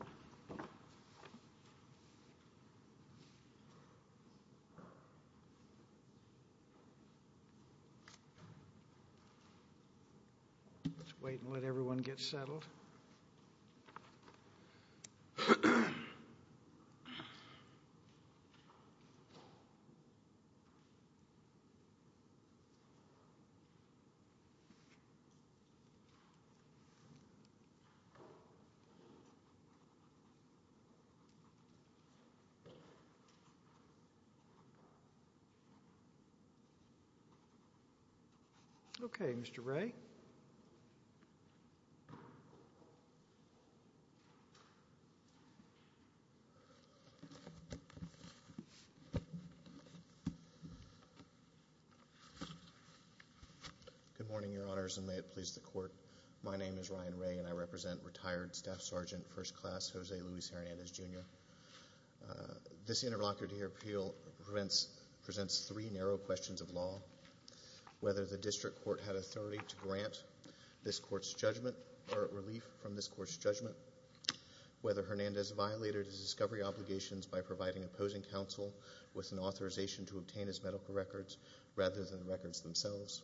Let's wait and let everyone get settled. Okay, Mr. Wray. Good morning, Your Honors, and may it please the Court. My name is Ryan Wray, and I represent retired Staff Sergeant First Class Jose Luis Hernandez, Jr. This interlocutor to your appeal presents three narrow questions of law. Whether the district court had authority to grant this court's judgment or relief from this court's judgment, whether Hernandez violated his discovery obligations by providing opposing counsel with an authorization to obtain his medical records rather than the records themselves,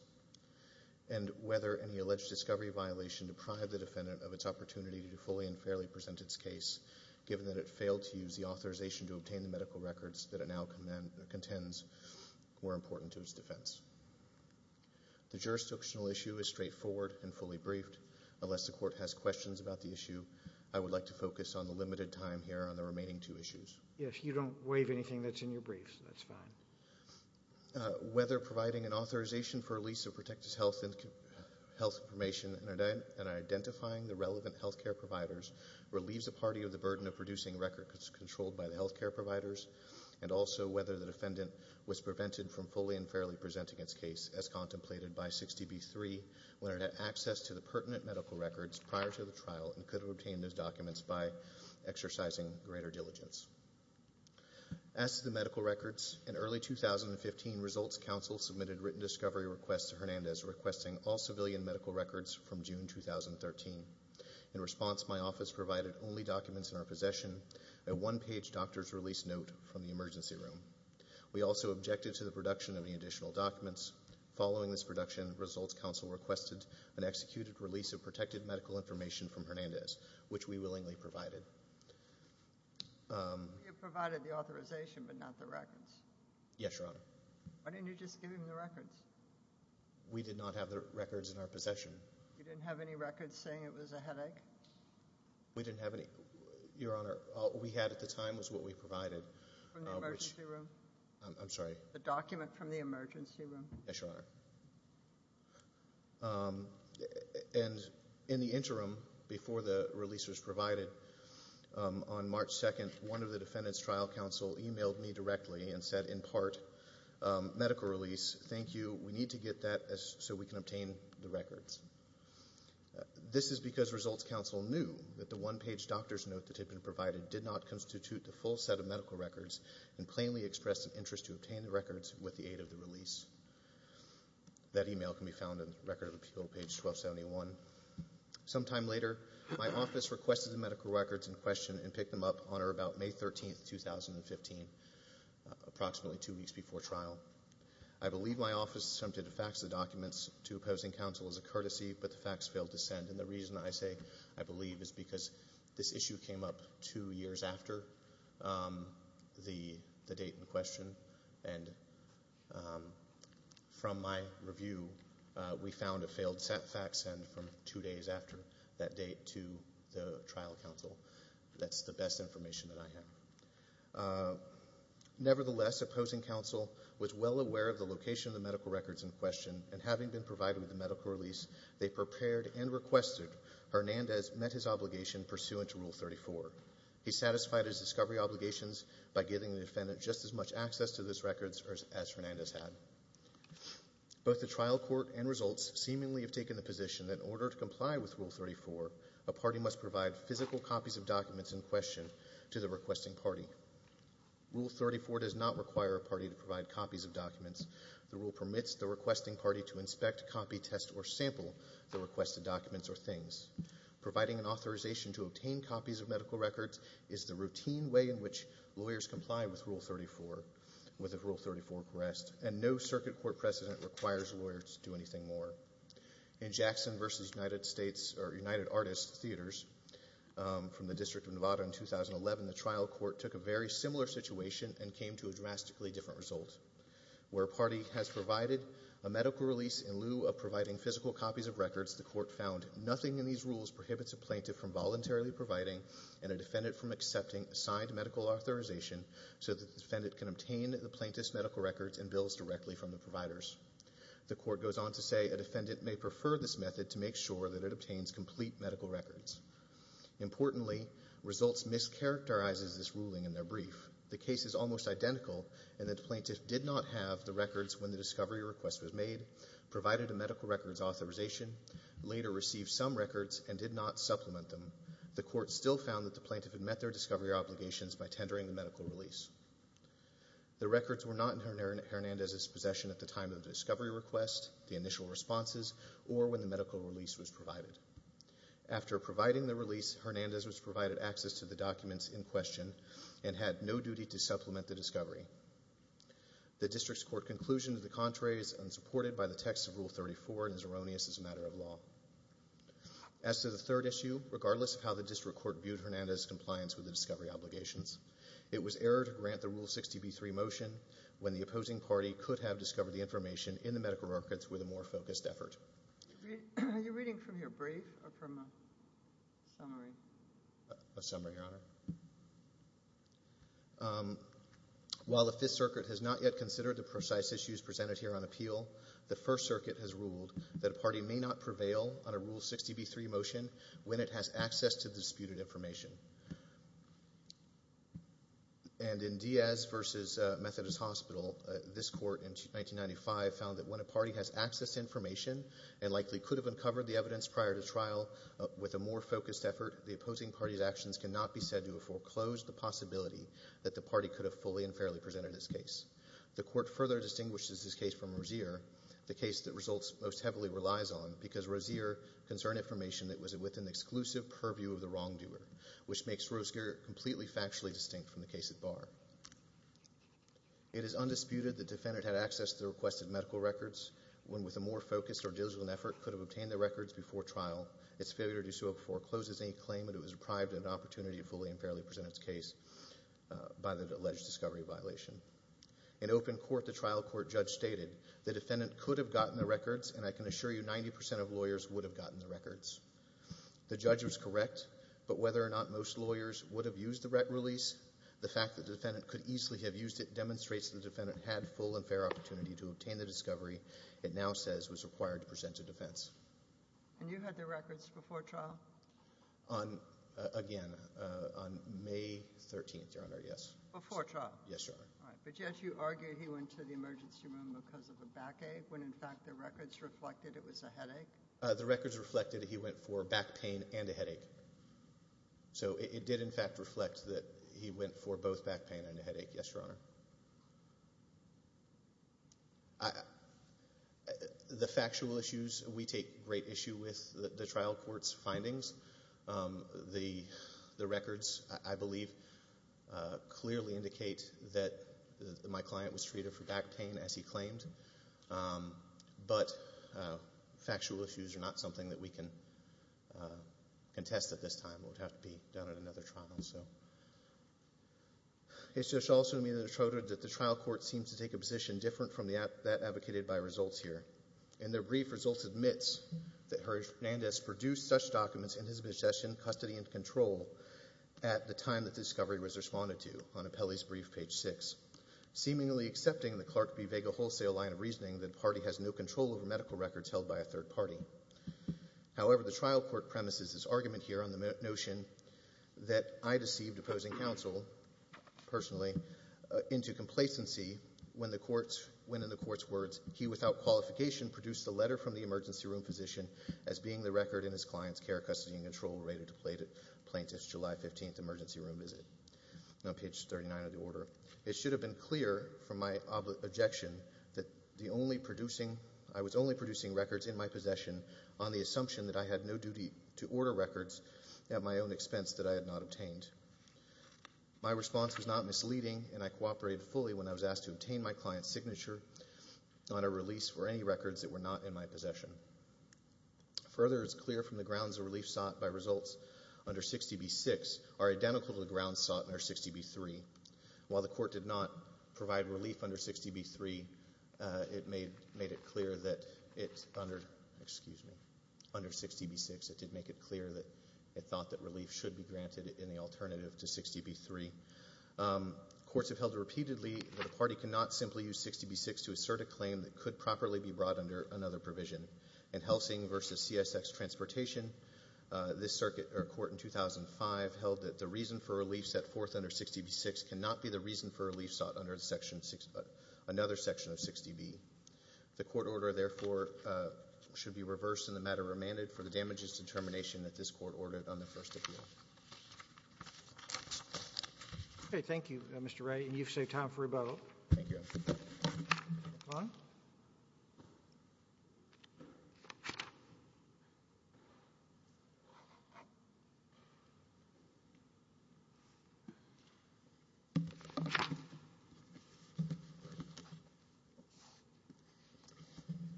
and whether any alleged discovery violation deprived the defendant of its opportunity to fully and fairly present its case given that it failed to use the authorization to obtain the medical records that it now contends were important to its defense. The jurisdictional issue is straightforward and fully briefed. Unless the Court has questions about the issue, I would like to focus on the limited time here on the remaining two issues. Yes, you don't waive anything that's in your briefs. That's fine. Whether providing an authorization for a lease of protected health information and identifying the relevant health care providers relieves the party of the burden of producing records controlled by the health care providers, and also whether the defendant was prevented from fully and fairly presenting its case, as contemplated by 60B3, when it had access to the pertinent medical records prior to the trial and could have obtained those documents by exercising greater diligence. As to the medical records, in early 2015, Results Council submitted written discovery requests to Hernandez requesting all civilian medical records from June 2013. In response, my office provided only documents in our possession, a one-page doctor's release note from the emergency room. We also objected to the production of any additional documents. Following this production, Results Council requested an executed release of protected medical information from Hernandez, which we willingly provided. You provided the authorization but not the records. Yes, Your Honor. Why didn't you just give him the records? We did not have the records in our possession. You didn't have any records saying it was a headache? We didn't have any. Your Honor, all we had at the time was what we provided. From the emergency room? I'm sorry? The document from the emergency room. Yes, Your Honor. And in the interim, before the release was provided, on March 2nd, one of the defendants' trial counsel emailed me directly and said, in part, medical release, thank you. We need to get that so we can obtain the records. This is because Results Council knew that the one-page doctor's note that had been provided did not constitute the full set of medical records and plainly expressed an interest to obtain the records with the aid of the release. That email can be found in Record of Appeal, page 1271. Sometime later, my office requested the medical records in question and picked them up on or about May 13th, 2015, approximately two weeks before trial. I believe my office attempted to fax the documents to opposing counsel as a courtesy, but the fax failed to send. And the reason I say I believe is because this issue came up two years after the date in question. And from my review, we found a failed fax send from two days after that date to the trial counsel. That's the best information that I have. Nevertheless, opposing counsel was well aware of the location of the medical records in question, and having been provided with the medical release, they prepared and requested. Hernandez met his obligation pursuant to Rule 34. He satisfied his discovery obligations by giving the defendant just as much access to those records as Hernandez had. Both the trial court and Results seemingly have taken the position that in order to comply with Rule 34, a party must provide physical copies of documents in question to the requesting party. Rule 34 does not require a party to provide copies of documents. The rule permits the requesting party to inspect, copy, test, or sample the requested documents or things. Providing an authorization to obtain copies of medical records is the routine way in which lawyers comply with Rule 34, with a Rule 34 request, and no circuit court precedent requires lawyers to do anything more. In Jackson v. United Artists Theaters from the District of Nevada in 2011, the trial court took a very similar situation and came to a drastically different result. Where a party has provided a medical release in lieu of providing physical copies of records, the court found nothing in these rules prohibits a plaintiff from voluntarily providing and a defendant from accepting a signed medical authorization so that the defendant can obtain the plaintiff's medical records and bills directly from the providers. The court goes on to say a defendant may prefer this method to make sure that it obtains complete medical records. Importantly, results mischaracterizes this ruling in their brief. The case is almost identical in that the plaintiff did not have the records when the discovery request was made, provided a medical records authorization, later received some records, and did not supplement them. The court still found that the plaintiff had met their discovery obligations by tendering the medical release. The records were not in Hernandez's possession at the time of the discovery request, the initial responses, or when the medical release was provided. After providing the release, Hernandez was provided access to the documents in question and had no duty to supplement the discovery. The district's court conclusion to the contrary is unsupported by the text of Rule 34 and is erroneous as a matter of law. As to the third issue, regardless of how the district court viewed Hernandez's compliance with the discovery obligations, it was error to grant the Rule 60b-3 motion when the opposing party could have discovered the information in the medical records with a more focused effort. Are you reading from your brief or from a summary? A summary, Your Honor. While the Fifth Circuit has not yet considered the precise issues presented here on appeal, the First Circuit has ruled that a party may not prevail on a Rule 60b-3 motion when it has access to the disputed information. And in Diaz v. Methodist Hospital, this court in 1995 found that when a party has access to information, and likely could have uncovered the evidence prior to trial with a more focused effort, the opposing party's actions cannot be said to have foreclosed the possibility that the party could have fully and fairly presented its case. The court further distinguishes this case from Rozier, the case that results most heavily relies on, because Rozier concerned information that was within the exclusive purview of the wrongdoer, which makes Rozier completely factually distinct from the case at bar. It is undisputed that the defendant had access to the requested medical records when, with a more focused or diligent effort, could have obtained the records before trial. Its failure to do so forecloses any claim that it was deprived an opportunity to fully and fairly present its case by the alleged discovery violation. In open court, the trial court judge stated, the defendant could have gotten the records, and I can assure you 90% of lawyers would have gotten the records. The judge was correct, but whether or not most lawyers would have used the release, the fact that the defendant could easily have used it demonstrates the defendant had full and fair opportunity to obtain the discovery it now says was required to present to defense. And you had the records before trial? Again, on May 13th, Your Honor, yes. Before trial? Yes, Your Honor. All right, but yet you argued he went to the emergency room because of a backache when, in fact, the records reflected it was a headache? The records reflected he went for back pain and a headache. So it did, in fact, reflect that he went for both back pain and a headache. Yes, Your Honor. The factual issues, we take great issue with the trial court's findings. The records, I believe, clearly indicate that my client was treated for back pain, as he claimed. But factual issues are not something that we can contest at this time. It would have to be done at another trial. It should also be noted that the trial court seems to take a position different from that advocated by results here. In their brief, results admits that Harry Hernandez produced such documents in his possession, custody, and control at the time that the discovery was responded to on Apelli's brief, page 6, seemingly accepting the Clark v. Vega wholesale line of reasoning that the party has no control over medical records held by a third party. However, the trial court premises this argument here on the notion that I deceived opposing counsel, personally, into complacency when, in the court's words, he, without qualification, produced the letter from the emergency room physician as being the record in his client's care, custody, and control, related to plaintiff's July 15th emergency room visit, on page 39 of the order. It should have been clear, from my objection, that I was only producing records in my possession on the assumption that I had no duty to order records at my own expense that I had not obtained. My response was not misleading, and I cooperated fully when I was asked to obtain my client's signature on a release for any records that were not in my possession. Further, it's clear from the grounds of relief sought by results under 60B-6 are identical to the grounds sought under 60B-3. While the court did not provide relief under 60B-3, it made it clear that it, under, excuse me, under 60B-6, it did make it clear that it thought that relief should be granted in the alternative to 60B-3. Courts have held repeatedly that a party cannot simply use 60B-6 to assert a claim that could properly be brought under another provision. In Helsing v. CSX Transportation, this circuit, or court in 2005, held that the reason for relief set forth under 60B-6 cannot be the reason for relief sought under another section of 60B. The court order, therefore, should be reversed, and the matter remanded for the damages determination that this court ordered on the first appeal. Okay. Thank you, Mr. Wright, and you've saved time for rebuttal. Thank you. Ron?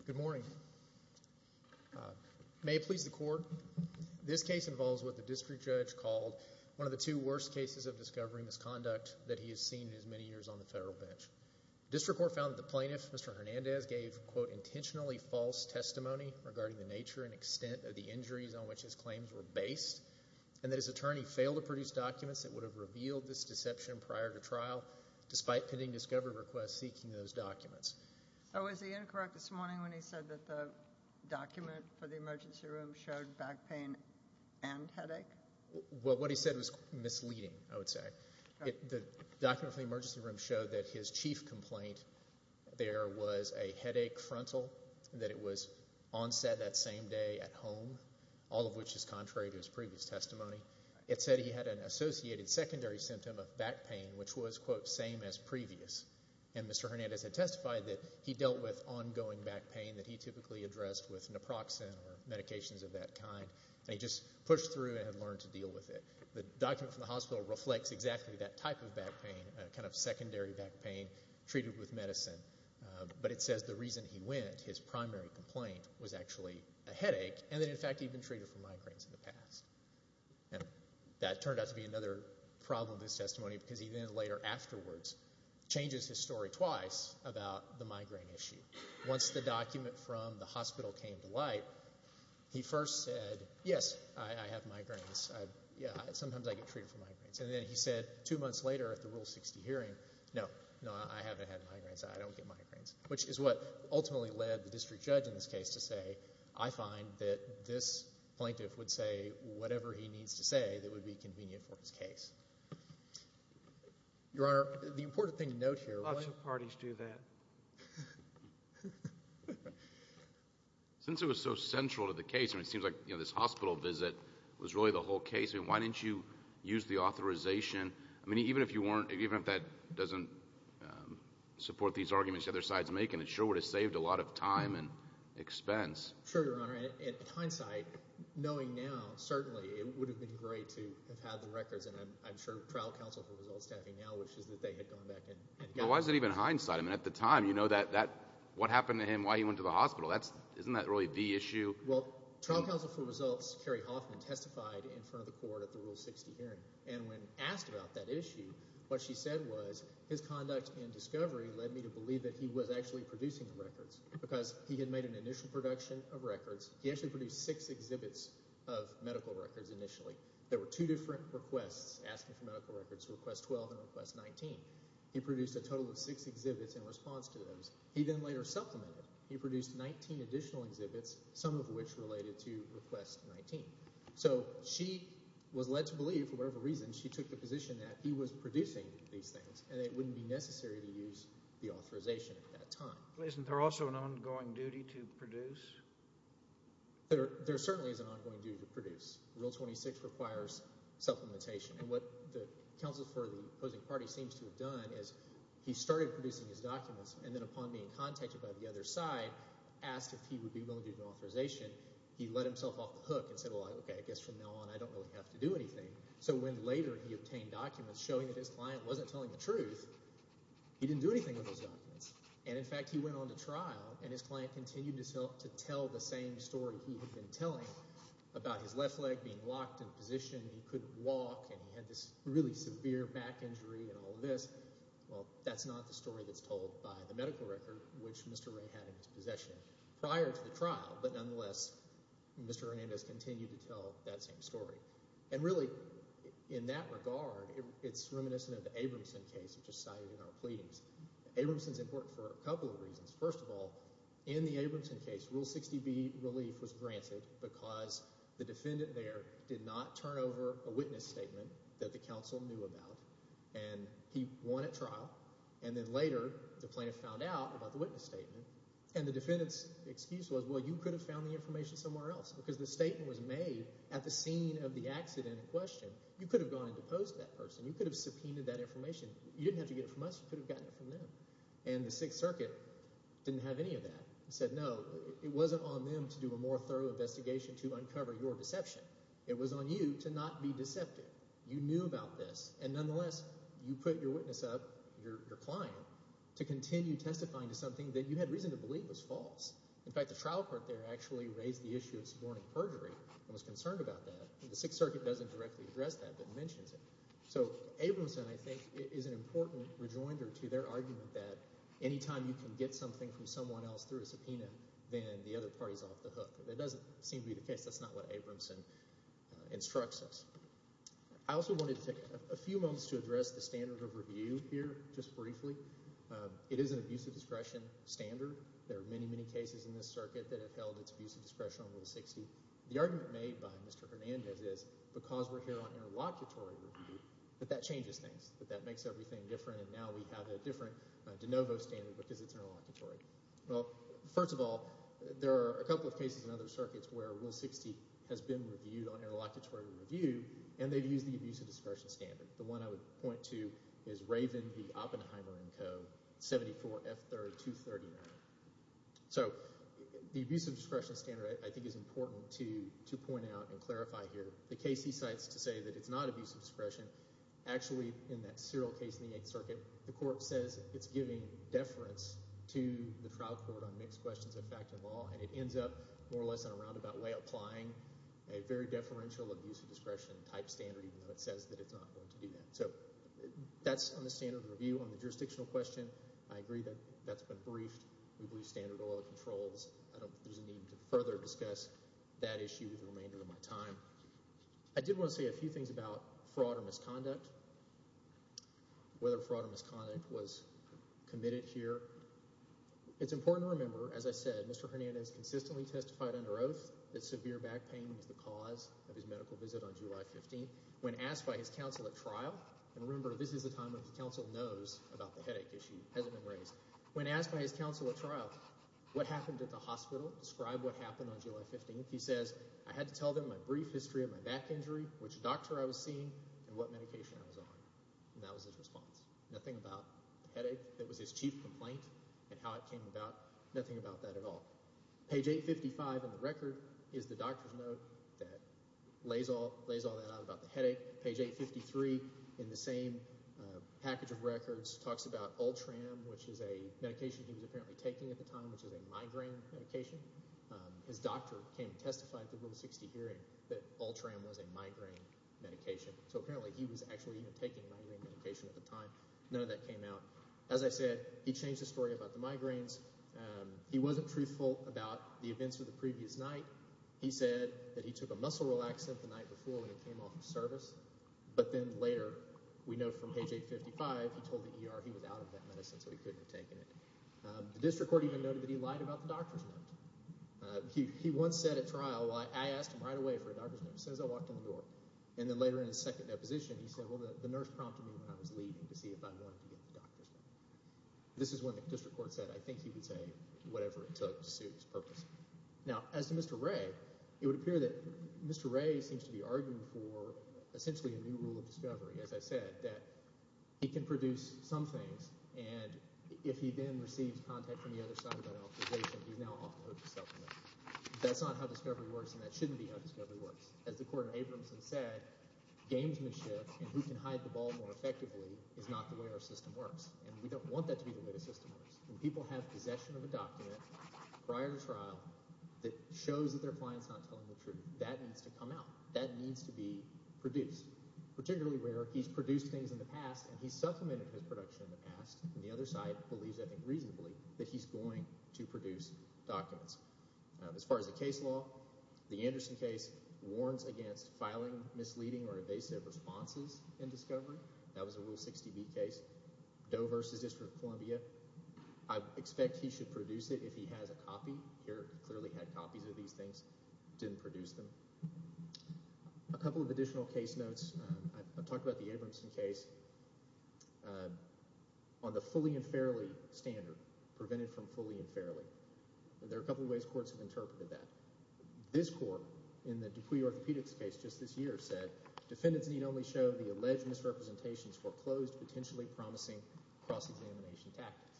Good morning. May it please the court, this case involves what the district judge called one of the two worst cases of discovery misconduct that he has seen in his many years on the federal bench. The district court found that the plaintiff, Mr. Hernandez, gave, quote, intentionally false testimony regarding the nature and extent of the injuries on which his claims were based, and that his attorney failed to produce documents that would have revealed this deception prior to trial, despite pending discovery requests seeking those documents. So was he incorrect this morning when he said that the document for the emergency room showed back pain and headache? Well, what he said was misleading, I would say. The document for the emergency room showed that his chief complaint, there was a headache frontal, that it was onset that same day at home, all of which is contrary to his previous testimony. It said he had an associated secondary symptom of back pain, which was, quote, same as previous, and Mr. Hernandez had testified that he dealt with ongoing back pain that he typically addressed with naproxen or medications of that kind, and he just pushed through and had learned to deal with it. The document from the hospital reflects exactly that type of back pain, a kind of secondary back pain treated with medicine, but it says the reason he went, his primary complaint, was actually a headache, and that, in fact, he'd been treated for migraines in the past. And that turned out to be another problem with his testimony because he then later afterwards changes his story twice about the migraine issue. Once the document from the hospital came to light, he first said, yes, I have migraines. Yeah, sometimes I get treated for migraines. And then he said two months later at the Rule 60 hearing, no, no, I haven't had migraines, I don't get migraines, which is what ultimately led the district judge in this case to say, I find that this plaintiff would say whatever he needs to say that would be convenient for his case. Your Honor, the important thing to note here... Lots of parties do that. Since it was so central to the case, it seems like this hospital visit was really the whole case. Why didn't you use the authorization? I mean, even if you weren't, even if that doesn't support these arguments the other side's making, it sure would have saved a lot of time and expense. Sure, Your Honor. In hindsight, knowing now, certainly, it would have been great to have had the records, that they had gone back and gotten them. But why is it even hindsight? I mean, at the time, you know what happened to him, why he went to the hospital. Isn't that really the issue? Well, trial counsel for results, Carrie Hoffman, testified in front of the court at the Rule 60 hearing. And when asked about that issue, what she said was his conduct in discovery led me to believe that he was actually producing the records because he had made an initial production of records. He actually produced six exhibits of medical records initially. There were two different requests, asking for medical records, Request 12 and Request 19. He produced a total of six exhibits in response to those. He then later supplemented. He produced 19 additional exhibits, some of which related to Request 19. So she was led to believe, for whatever reason, she took the position that he was producing these things and it wouldn't be necessary to use the authorization at that time. Isn't there also an ongoing duty to produce? There certainly is an ongoing duty to produce. Rule 26 requires supplementation. And what the counsel for the opposing party seems to have done is he started producing his documents and then upon being contacted by the other side, asked if he would be willing to do the authorization. He let himself off the hook and said, well, okay, I guess from now on I don't really have to do anything. So when later he obtained documents showing that his client wasn't telling the truth, he didn't do anything with those documents. And, in fact, he went on to trial and his client continued to tell the same story he had been telling about his left leg being locked in position, he couldn't walk, and he had this really severe back injury and all of this. Well, that's not the story that's told by the medical record, which Mr. Ray had in his possession prior to the trial. But nonetheless, Mr. Hernandez continued to tell that same story. And really, in that regard, it's reminiscent of the Abramson case, which is cited in our pleadings. Abramson's important for a couple of reasons. First of all, in the Abramson case, Rule 60B relief was granted because the defendant there did not turn over a witness statement that the counsel knew about, and he won at trial. And then later the plaintiff found out about the witness statement, and the defendant's excuse was, well, you could have found the information somewhere else because the statement was made at the scene of the accident in question. You could have gone and deposed that person. You could have subpoenaed that information. You didn't have to get it from us. You could have gotten it from them. And the Sixth Circuit didn't have any of that. They said, no, it wasn't on them to do a more thorough investigation to uncover your deception. It was on you to not be deceptive. You knew about this. And nonetheless, you put your witness up, your client, to continue testifying to something that you had reason to believe was false. In fact, the trial court there actually raised the issue of suborning perjury and was concerned about that. The Sixth Circuit doesn't directly address that but mentions it. So Abramson, I think, is an important rejoinder to their argument that any time you can get something from someone else through a subpoena, then the other party is off the hook. That doesn't seem to be the case. That's not what Abramson instructs us. I also wanted to take a few moments to address the standard of review here just briefly. It is an abuse of discretion standard. There are many, many cases in this circuit that have held its abuse of discretion on Rule 60. The argument made by Mr. Hernandez is because we're here on interlocutory review, that that changes things, that that makes everything different, and now we have a different de novo standard because it's interlocutory. Well, first of all, there are a couple of cases in other circuits where Rule 60 has been reviewed on interlocutory review and they've used the abuse of discretion standard. The one I would point to is Raven v. Oppenheimer & Co., 74F3239. So the abuse of discretion standard, I think, is important to point out and clarify here. The case he cites to say that it's not abuse of discretion, actually in that serial case in the Eighth Circuit, the court says it's giving deference to the trial court on mixed questions of fact and law, and it ends up more or less in a roundabout way applying a very deferential abuse of discretion type standard even though it says that it's not going to do that. So that's on the standard of review. On the jurisdictional question, I agree that that's been briefed. We believe standard oil controls. There's a need to further discuss that issue with the remainder of my time. I did want to say a few things about fraud or misconduct, whether fraud or misconduct was committed here. It's important to remember, as I said, Mr. Hernandez consistently testified under oath that severe back pain was the cause of his medical visit on July 15th. When asked by his counsel at trial, and remember this is the time when the counsel knows about the headache issue, hasn't been raised. When asked by his counsel at trial what happened at the hospital, describe what happened on July 15th, he says, I had to tell them my brief history of my back injury, which doctor I was seeing, and what medication I was on. And that was his response. Nothing about the headache that was his chief complaint and how it came about, nothing about that at all. Page 855 in the record is the doctor's note that lays all that out about the headache. Page 853 in the same package of records talks about Ultram, which is a medication he was apparently taking at the time, which is a migraine medication. His doctor came and testified at the Rule 60 hearing that Ultram was a migraine medication. So apparently he was actually taking a migraine medication at the time. None of that came out. As I said, he changed the story about the migraines. He wasn't truthful about the events of the previous night. He said that he took a muscle relaxant the night before when he came off of service, but then later we know from page 855 he told the ER he was out of that medicine so he couldn't have taken it. The district court even noted that he lied about the doctor's note. He once said at trial, I asked him right away for a doctor's note as soon as I walked in the door, and then later in his second deposition he said, well, the nurse prompted me when I was leaving to see if I wanted to get the doctor's note. This is when the district court said I think he would say whatever it took to suit his purpose. Now, as to Mr. Ray, it would appear that Mr. Ray seems to be arguing for essentially a new rule of discovery, as I said, that he can produce some things, and if he then receives contact from the other side of that authorization, he's now off the hook to supplement. That's not how discovery works, and that shouldn't be how discovery works. As the court in Abramson said, gamesmanship and who can hide the ball more effectively is not the way our system works, and we don't want that to be the way the system works. When people have possession of a document prior to trial that shows that their client is not telling the truth, that needs to come out. That needs to be produced, particularly where he's produced things in the past and he's supplemented his production in the past, and the other side believes, I think reasonably, that he's going to produce documents. As far as the case law, the Anderson case warns against filing misleading or evasive responses in discovery. That was a Rule 60B case, Doe v. District of Columbia. I expect he should produce it if he has a copy. He clearly had copies of these things, didn't produce them. A couple of additional case notes. I've talked about the Abramson case on the fully and fairly standard, prevented from fully and fairly. There are a couple of ways courts have interpreted that. This court in the Dupuy orthopedics case just this year said, defendants need only show the alleged misrepresentations for closed, potentially promising cross-examination tactics.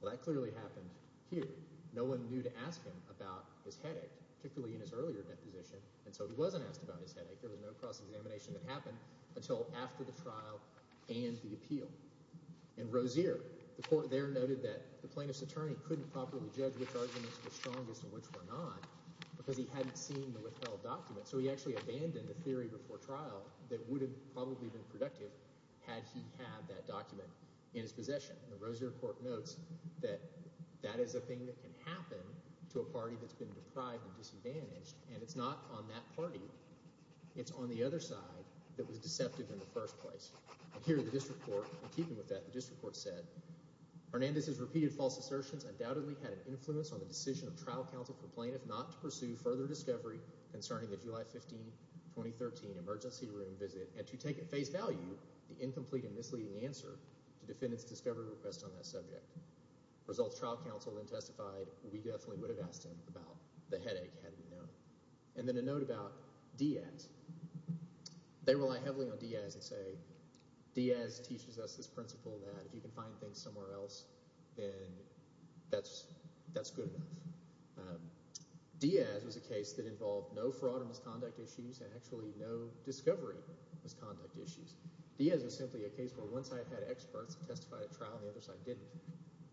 Well, that clearly happened here. No one knew to ask him about his headache, particularly in his earlier deposition, and so he wasn't asked about his headache. There was no cross-examination that happened until after the trial and the appeal. In Rozier, the court there noted that the plaintiff's attorney couldn't properly judge which arguments were strongest and which were not because he hadn't seen the withheld document, so he actually abandoned a theory before trial that would have probably been productive had he had that document in his possession. The Rozier court notes that that is a thing that can happen to a party that's been deprived and disadvantaged, and it's not on that party. It's on the other side that was deceptive in the first place. Here, the district court, in keeping with that, the district court said, Hernandez's repeated false assertions undoubtedly had an influence on the decision of trial counsel for plaintiff not to pursue further discovery concerning the July 15, 2013, emergency room visit and to take at face value the incomplete and misleading answer to defendant's discovery request on that subject. Results trial counsel then testified we definitely would have asked him about the headache had we known. And then a note about Diaz. They rely heavily on Diaz and say Diaz teaches us this principle that if you can find things somewhere else, then that's good enough. Diaz was a case that involved no fraud or misconduct issues and actually no discovery misconduct issues. Diaz was simply a case where one side had experts who testified at trial and the other side didn't.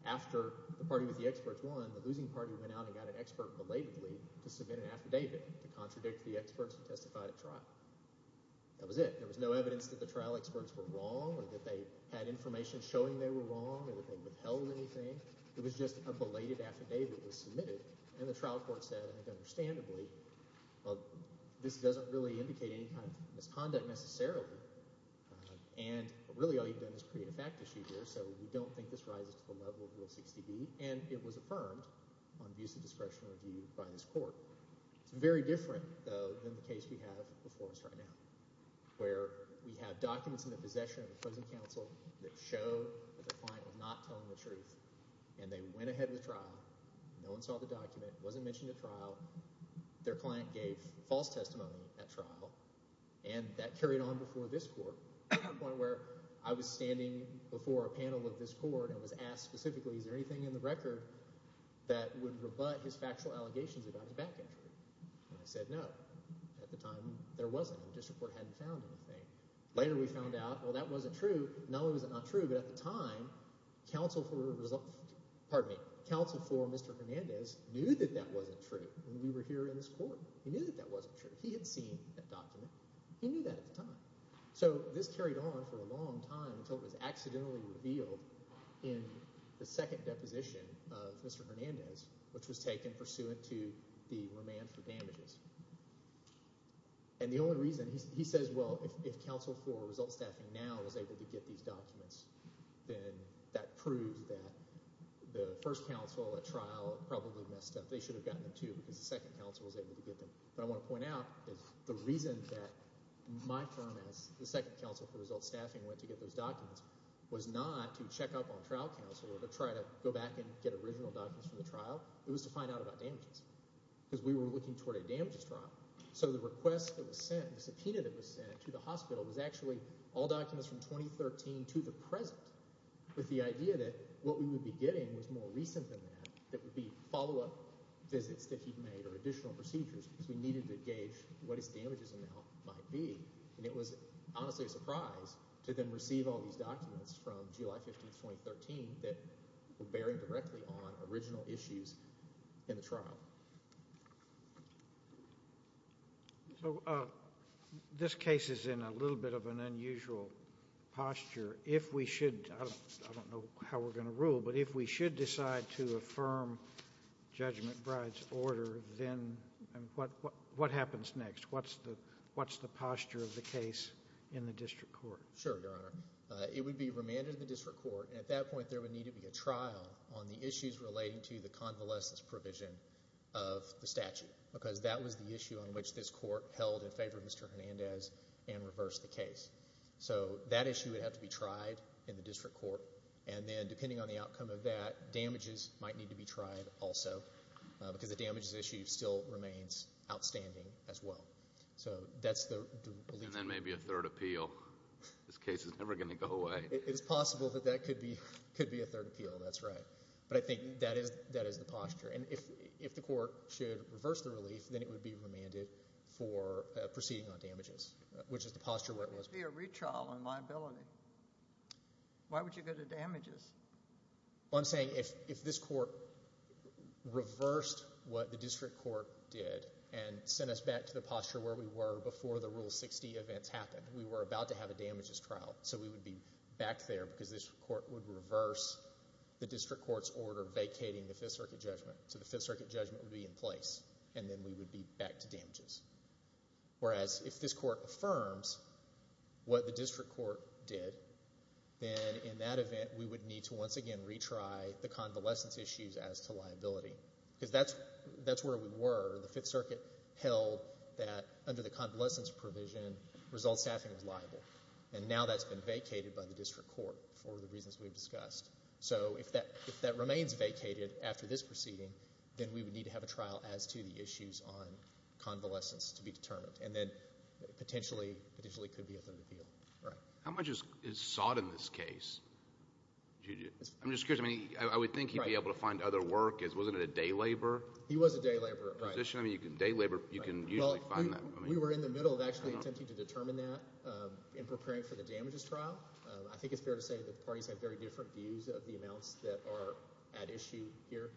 After the party with the experts won, the losing party went out and got an expert belatedly to submit an affidavit to contradict the experts who testified at trial. That was it. There was no evidence that the trial experts were wrong or that they had information showing they were wrong or that they withheld anything. It was just a belated affidavit was submitted, and the trial court said, I think understandably, this doesn't really indicate any kind of misconduct necessarily, and really all you've done is create a fact issue here, so we don't think this rises to the level of Rule 60B, and it was affirmed on views of discretion review by this court. It's very different, though, than the case we have before us right now where we have documents in the possession of a frozen counsel that show that the client was not telling the truth, and they went ahead with trial. No one saw the document. It wasn't mentioned at trial. Their client gave false testimony at trial, and that carried on before this court to the point where I was standing before a panel of this court and was asked specifically, is there anything in the record that would rebut his factual allegations about his back entry? And I said no. At the time, there wasn't. The district court hadn't found anything. Later we found out, well, that wasn't true. Not only was it not true, but at the time, counsel for Mr. Hernandez knew that that wasn't true when we were here in this court. He knew that that wasn't true. He had seen that document. He knew that at the time. So this carried on for a long time until it was accidentally revealed in the second deposition of Mr. Hernandez, which was taken pursuant to the remand for damages. And the only reason, he says, well, if counsel for result staffing now was able to get these documents, then that proves that the first counsel at trial probably messed up. They should have gotten them too because the second counsel was able to get them. But I want to point out that the reason that my firm, as the second counsel for result staffing, went to get those documents was not to check up on trial counsel or to try to go back and get original documents from the trial. It was to find out about damages. Because we were looking toward a damages trial. So the request that was sent, the subpoena that was sent to the hospital, was actually all documents from 2013 to the present, with the idea that what we would be getting was more recent than that, that would be follow-up visits that he'd made or additional procedures because we needed to gauge what his damages amount might be. And it was honestly a surprise to then receive all these documents from July 15, 2013, that were bearing directly on original issues in the trial. So this case is in a little bit of an unusual posture. If we should, I don't know how we're going to rule, but if we should decide to affirm Judge McBride's order, then what happens next? What's the posture of the case in the district court? Sure, Your Honor. It would be remanded to the district court. And at that point, there would need to be a trial on the issues relating to the convalescence provision of the statute because that was the issue on which this court held in favor of Mr. Hernandez and reversed the case. So that issue would have to be tried in the district court. And then depending on the outcome of that, damages might need to be tried also because the damages issue still remains outstanding as well. So that's the belief. And then maybe a third appeal. This case is never going to go away. It is possible that that could be a third appeal, that's right. But I think that is the posture. And if the court should reverse the relief, then it would be remanded for proceeding on damages, which is the posture where it was. It would be a retrial on liability. Why would you go to damages? Well, I'm saying if this court reversed what the district court did and sent us back to the posture where we were before the Rule 60 events happened, we were about to have a damages trial. So we would be back there because this court would reverse the district court's order vacating the Fifth Circuit judgment. So the Fifth Circuit judgment would be in place, and then we would be back to damages. Whereas if this court affirms what the district court did, then in that event we would need to once again retry the convalescence issues as to liability because that's where we were. The Fifth Circuit held that under the convalescence provision, result staffing was liable. And now that's been vacated by the district court for the reasons we've discussed. So if that remains vacated after this proceeding, then we would need to have a trial as to the issues on convalescence to be determined. And then it potentially could be a third appeal. How much is sought in this case? I'm just curious. I would think he'd be able to find other work. Wasn't it a day labor position? He was a day laborer. Day labor, you can usually find that. We were in the middle of actually attempting to determine that in preparing for the damages trial. I think it's fair to say that the parties have very different views of the amounts that are at issue here.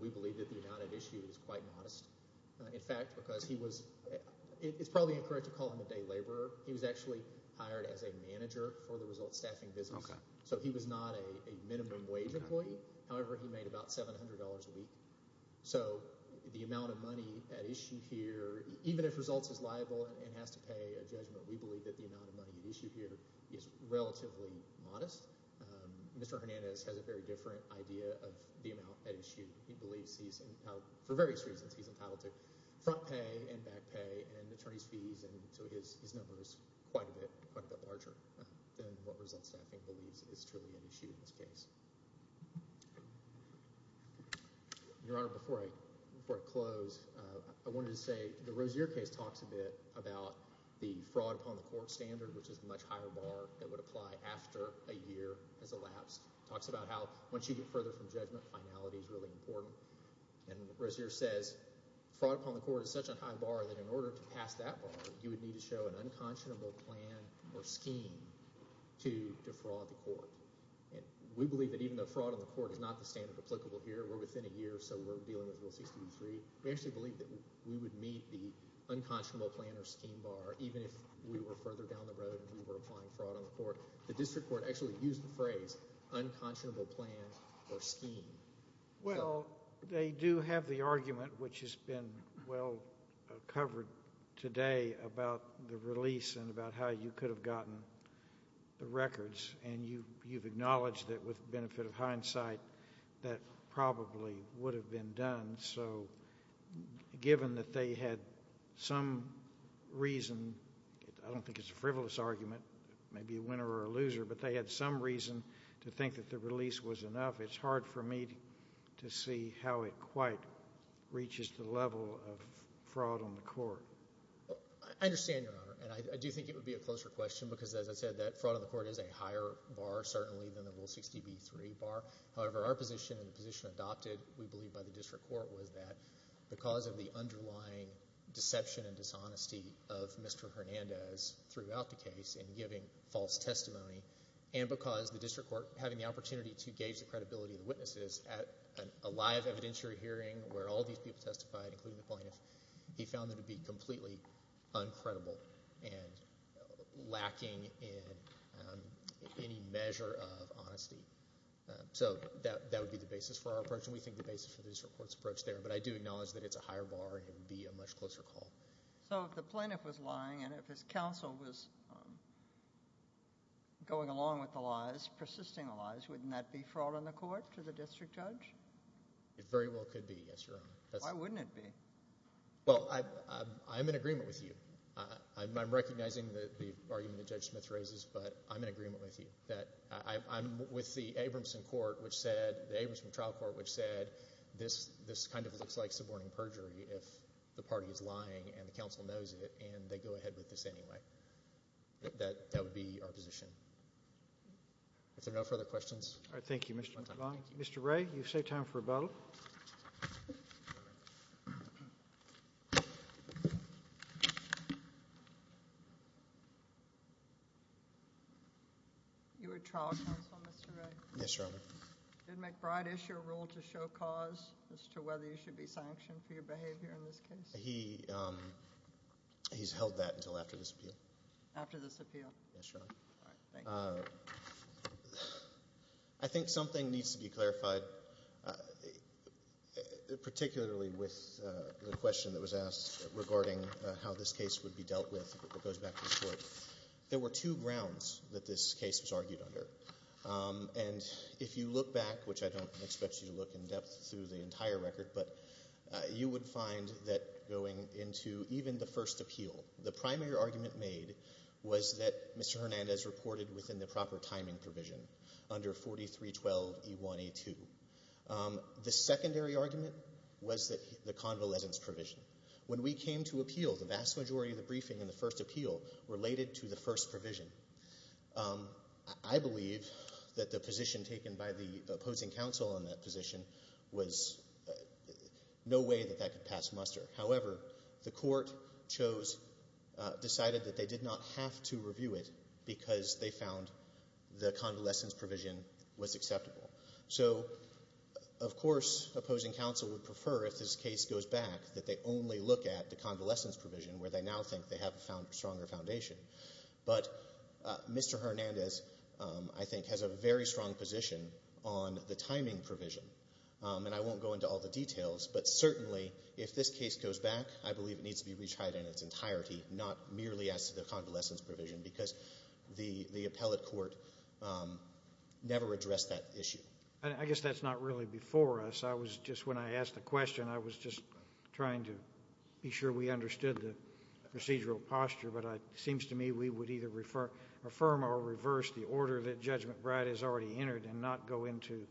We believe that the amount at issue is quite modest. In fact, because he was—it's probably incorrect to call him a day laborer. He was actually hired as a manager for the result staffing business. So he was not a minimum wage employee. However, he made about $700 a week. So the amount of money at issue here, even if results is liable and has to pay a judgment, we believe that the amount of money at issue here is relatively modest. Mr. Hernandez has a very different idea of the amount at issue. He believes he's, for various reasons, he's entitled to front pay and back pay and attorney's fees. So his number is quite a bit larger than what result staffing believes is truly at issue in this case. Your Honor, before I close, I wanted to say the Rozier case talks a bit about the fraud upon the court standard, which is a much higher bar that would apply after a year has elapsed. It talks about how once you get further from judgment, finality is really important. And Rozier says fraud upon the court is such a high bar that in order to pass that bar, you would need to show an unconscionable plan or scheme to defraud the court. We believe that even though fraud on the court is not the standard applicable here, we're within a year so we're dealing with Rule 63, we actually believe that we would meet the unconscionable plan or scheme bar even if we were further down the road and we were applying fraud on the court. The district court actually used the phrase unconscionable plan or scheme. Well, they do have the argument, which has been well covered today, about the release and about how you could have gotten the records. And you've acknowledged that with the benefit of hindsight that probably would have been done. So given that they had some reason, I don't think it's a frivolous argument, maybe a winner or a loser, but they had some reason to think that the release was enough, it's hard for me to see how it quite reaches the level of fraud on the court. I understand, Your Honor, and I do think it would be a closer question because, as I said, that fraud on the court is a higher bar certainly than the Rule 63 bar. However, our position and the position adopted, we believe, by the district court was that because of the underlying deception and dishonesty of Mr. Hernandez throughout the case in giving false testimony and because the district court having the opportunity to gauge the credibility of the witnesses at a live evidentiary hearing where all these people testified, including the plaintiffs, he found them to be completely uncredible and lacking in any measure of honesty. So that would be the basis for our approach, and we think the basis for the district court's approach there. But I do acknowledge that it's a higher bar and it would be a much closer call. So if the plaintiff was lying and if his counsel was going along with the lies, persisting the lies, wouldn't that be fraud on the court to the district judge? It very well could be, yes, Your Honor. Why wouldn't it be? Well, I'm in agreement with you. I'm recognizing the argument that Judge Smith raises, but I'm in agreement with you. I'm with the Abramson trial court which said this kind of looks like suborning perjury if the party is lying and the counsel knows it and they go ahead with this anyway. That would be our position. If there are no further questions. All right. Thank you, Mr. Devine. Mr. Wray, you've saved time for a vote. You were trial counsel, Mr. Wray? Yes, Your Honor. Did McBride issue a rule to show cause as to whether you should be sanctioned for your behavior in this case? He's held that until after this appeal. After this appeal? Yes, Your Honor. All right. Thank you. I think something needs to be clarified, particularly with the question that was asked regarding how this case would be dealt with, if it goes back to court. There were two grounds that this case was argued under, and if you look back, which I don't expect you to look in depth through the entire record, but you would find that going into even the first appeal, the primary argument made was that Mr. Hernandez reported within the proper timing provision under 4312E1A2. The secondary argument was the convalescence provision. When we came to appeal, the vast majority of the briefing in the first appeal related to the first provision. I believe that the position taken by the opposing counsel on that position was no way that that could pass muster. However, the court chose, decided that they did not have to review it because they found the convalescence provision was acceptable. So, of course, opposing counsel would prefer, if this case goes back, that they only look at the convalescence provision, where they now think they have a stronger foundation. But Mr. Hernandez, I think, has a very strong position on the timing provision, and I won't go into all the details, but certainly, if this case goes back, I believe it needs to be retried in its entirety, not merely as to the convalescence provision, because the appellate court never addressed that issue. And I guess that's not really before us. I was just, when I asked the question, I was just trying to be sure we understood the procedural posture, but it seems to me we would either affirm or reverse the order that Judge McBride has already entered and not go into.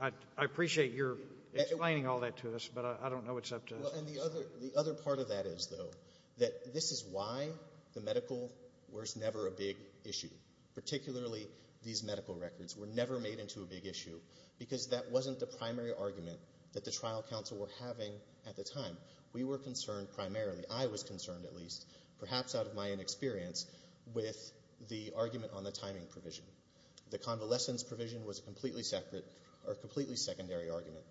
I appreciate your explaining all that to us, but I don't know what's up to us. And the other part of that is, though, that this is why the medical was never a big issue, particularly these medical records were never made into a big issue, because that wasn't the primary argument that the trial counsel were having at the time. We were concerned primarily, I was concerned at least, perhaps out of my inexperience, with the argument on the timing provision. The convalescence provision was a completely secondary argument,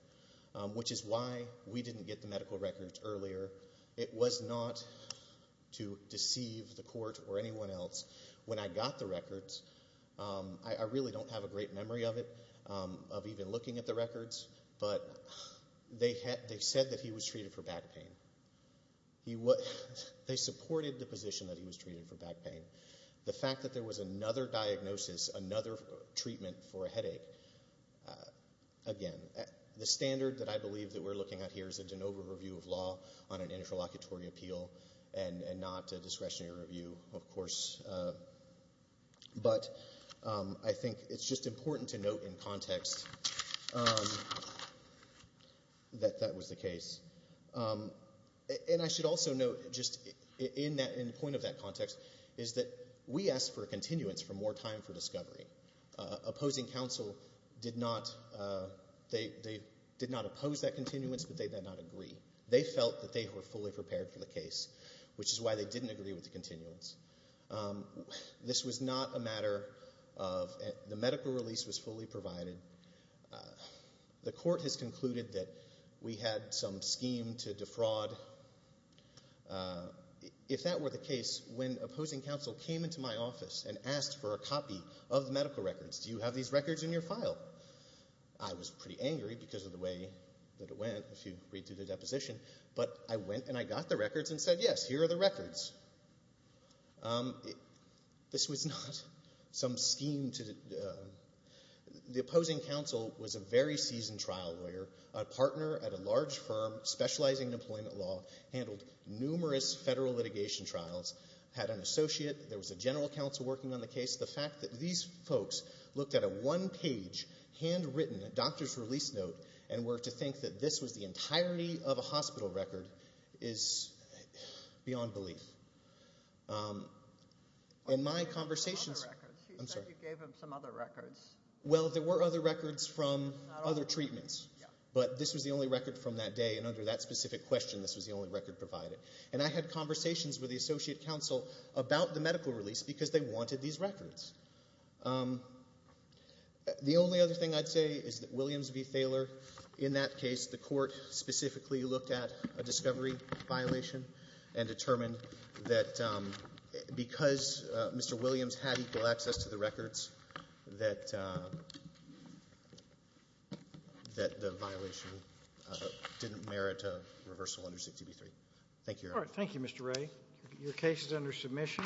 which is why we didn't get the medical records earlier. It was not to deceive the court or anyone else. When I got the records, I really don't have a great memory of it, of even looking at the records, but they said that he was treated for back pain. They supported the position that he was treated for back pain. The fact that there was another diagnosis, another treatment for a headache, again, the standard that I believe that we're looking at here is a de novo review of law on an interlocutory appeal and not a discretionary review, of course. But I think it's just important to note in context that that was the case. And I should also note, just in the point of that context, is that we asked for a continuance for more time for discovery. Opposing counsel did not oppose that continuance, but they did not agree. They felt that they were fully prepared for the case, which is why they didn't agree with the continuance. This was not a matter of the medical release was fully provided. The court has concluded that we had some scheme to defraud. If that were the case, when opposing counsel came into my office and asked for a copy of the medical records, do you have these records in your file? I was pretty angry because of the way that it went, if you read through the deposition. But I went and I got the records and said, yes, here are the records. This was not some scheme. The opposing counsel was a very seasoned trial lawyer, a partner at a large firm specializing in employment law, handled numerous federal litigation trials, had an associate. There was a general counsel working on the case. The fact that these folks looked at a one-page, handwritten doctor's release note and were to think that this was the entirety of a hospital record is beyond belief. In my conversations... She said you gave him some other records. Well, there were other records from other treatments, but this was the only record from that day, and under that specific question this was the only record provided. And I had conversations with the associate counsel about the medical release because they wanted these records. The only other thing I'd say is that Williams v. Thaler, in that case, the court specifically looked at a discovery violation and determined that because Mr. Williams had equal access to the records, that the violation didn't merit a reversal under 623. Thank you, Your Honor. All right. Thank you, Mr. Wray. Your case is under submission.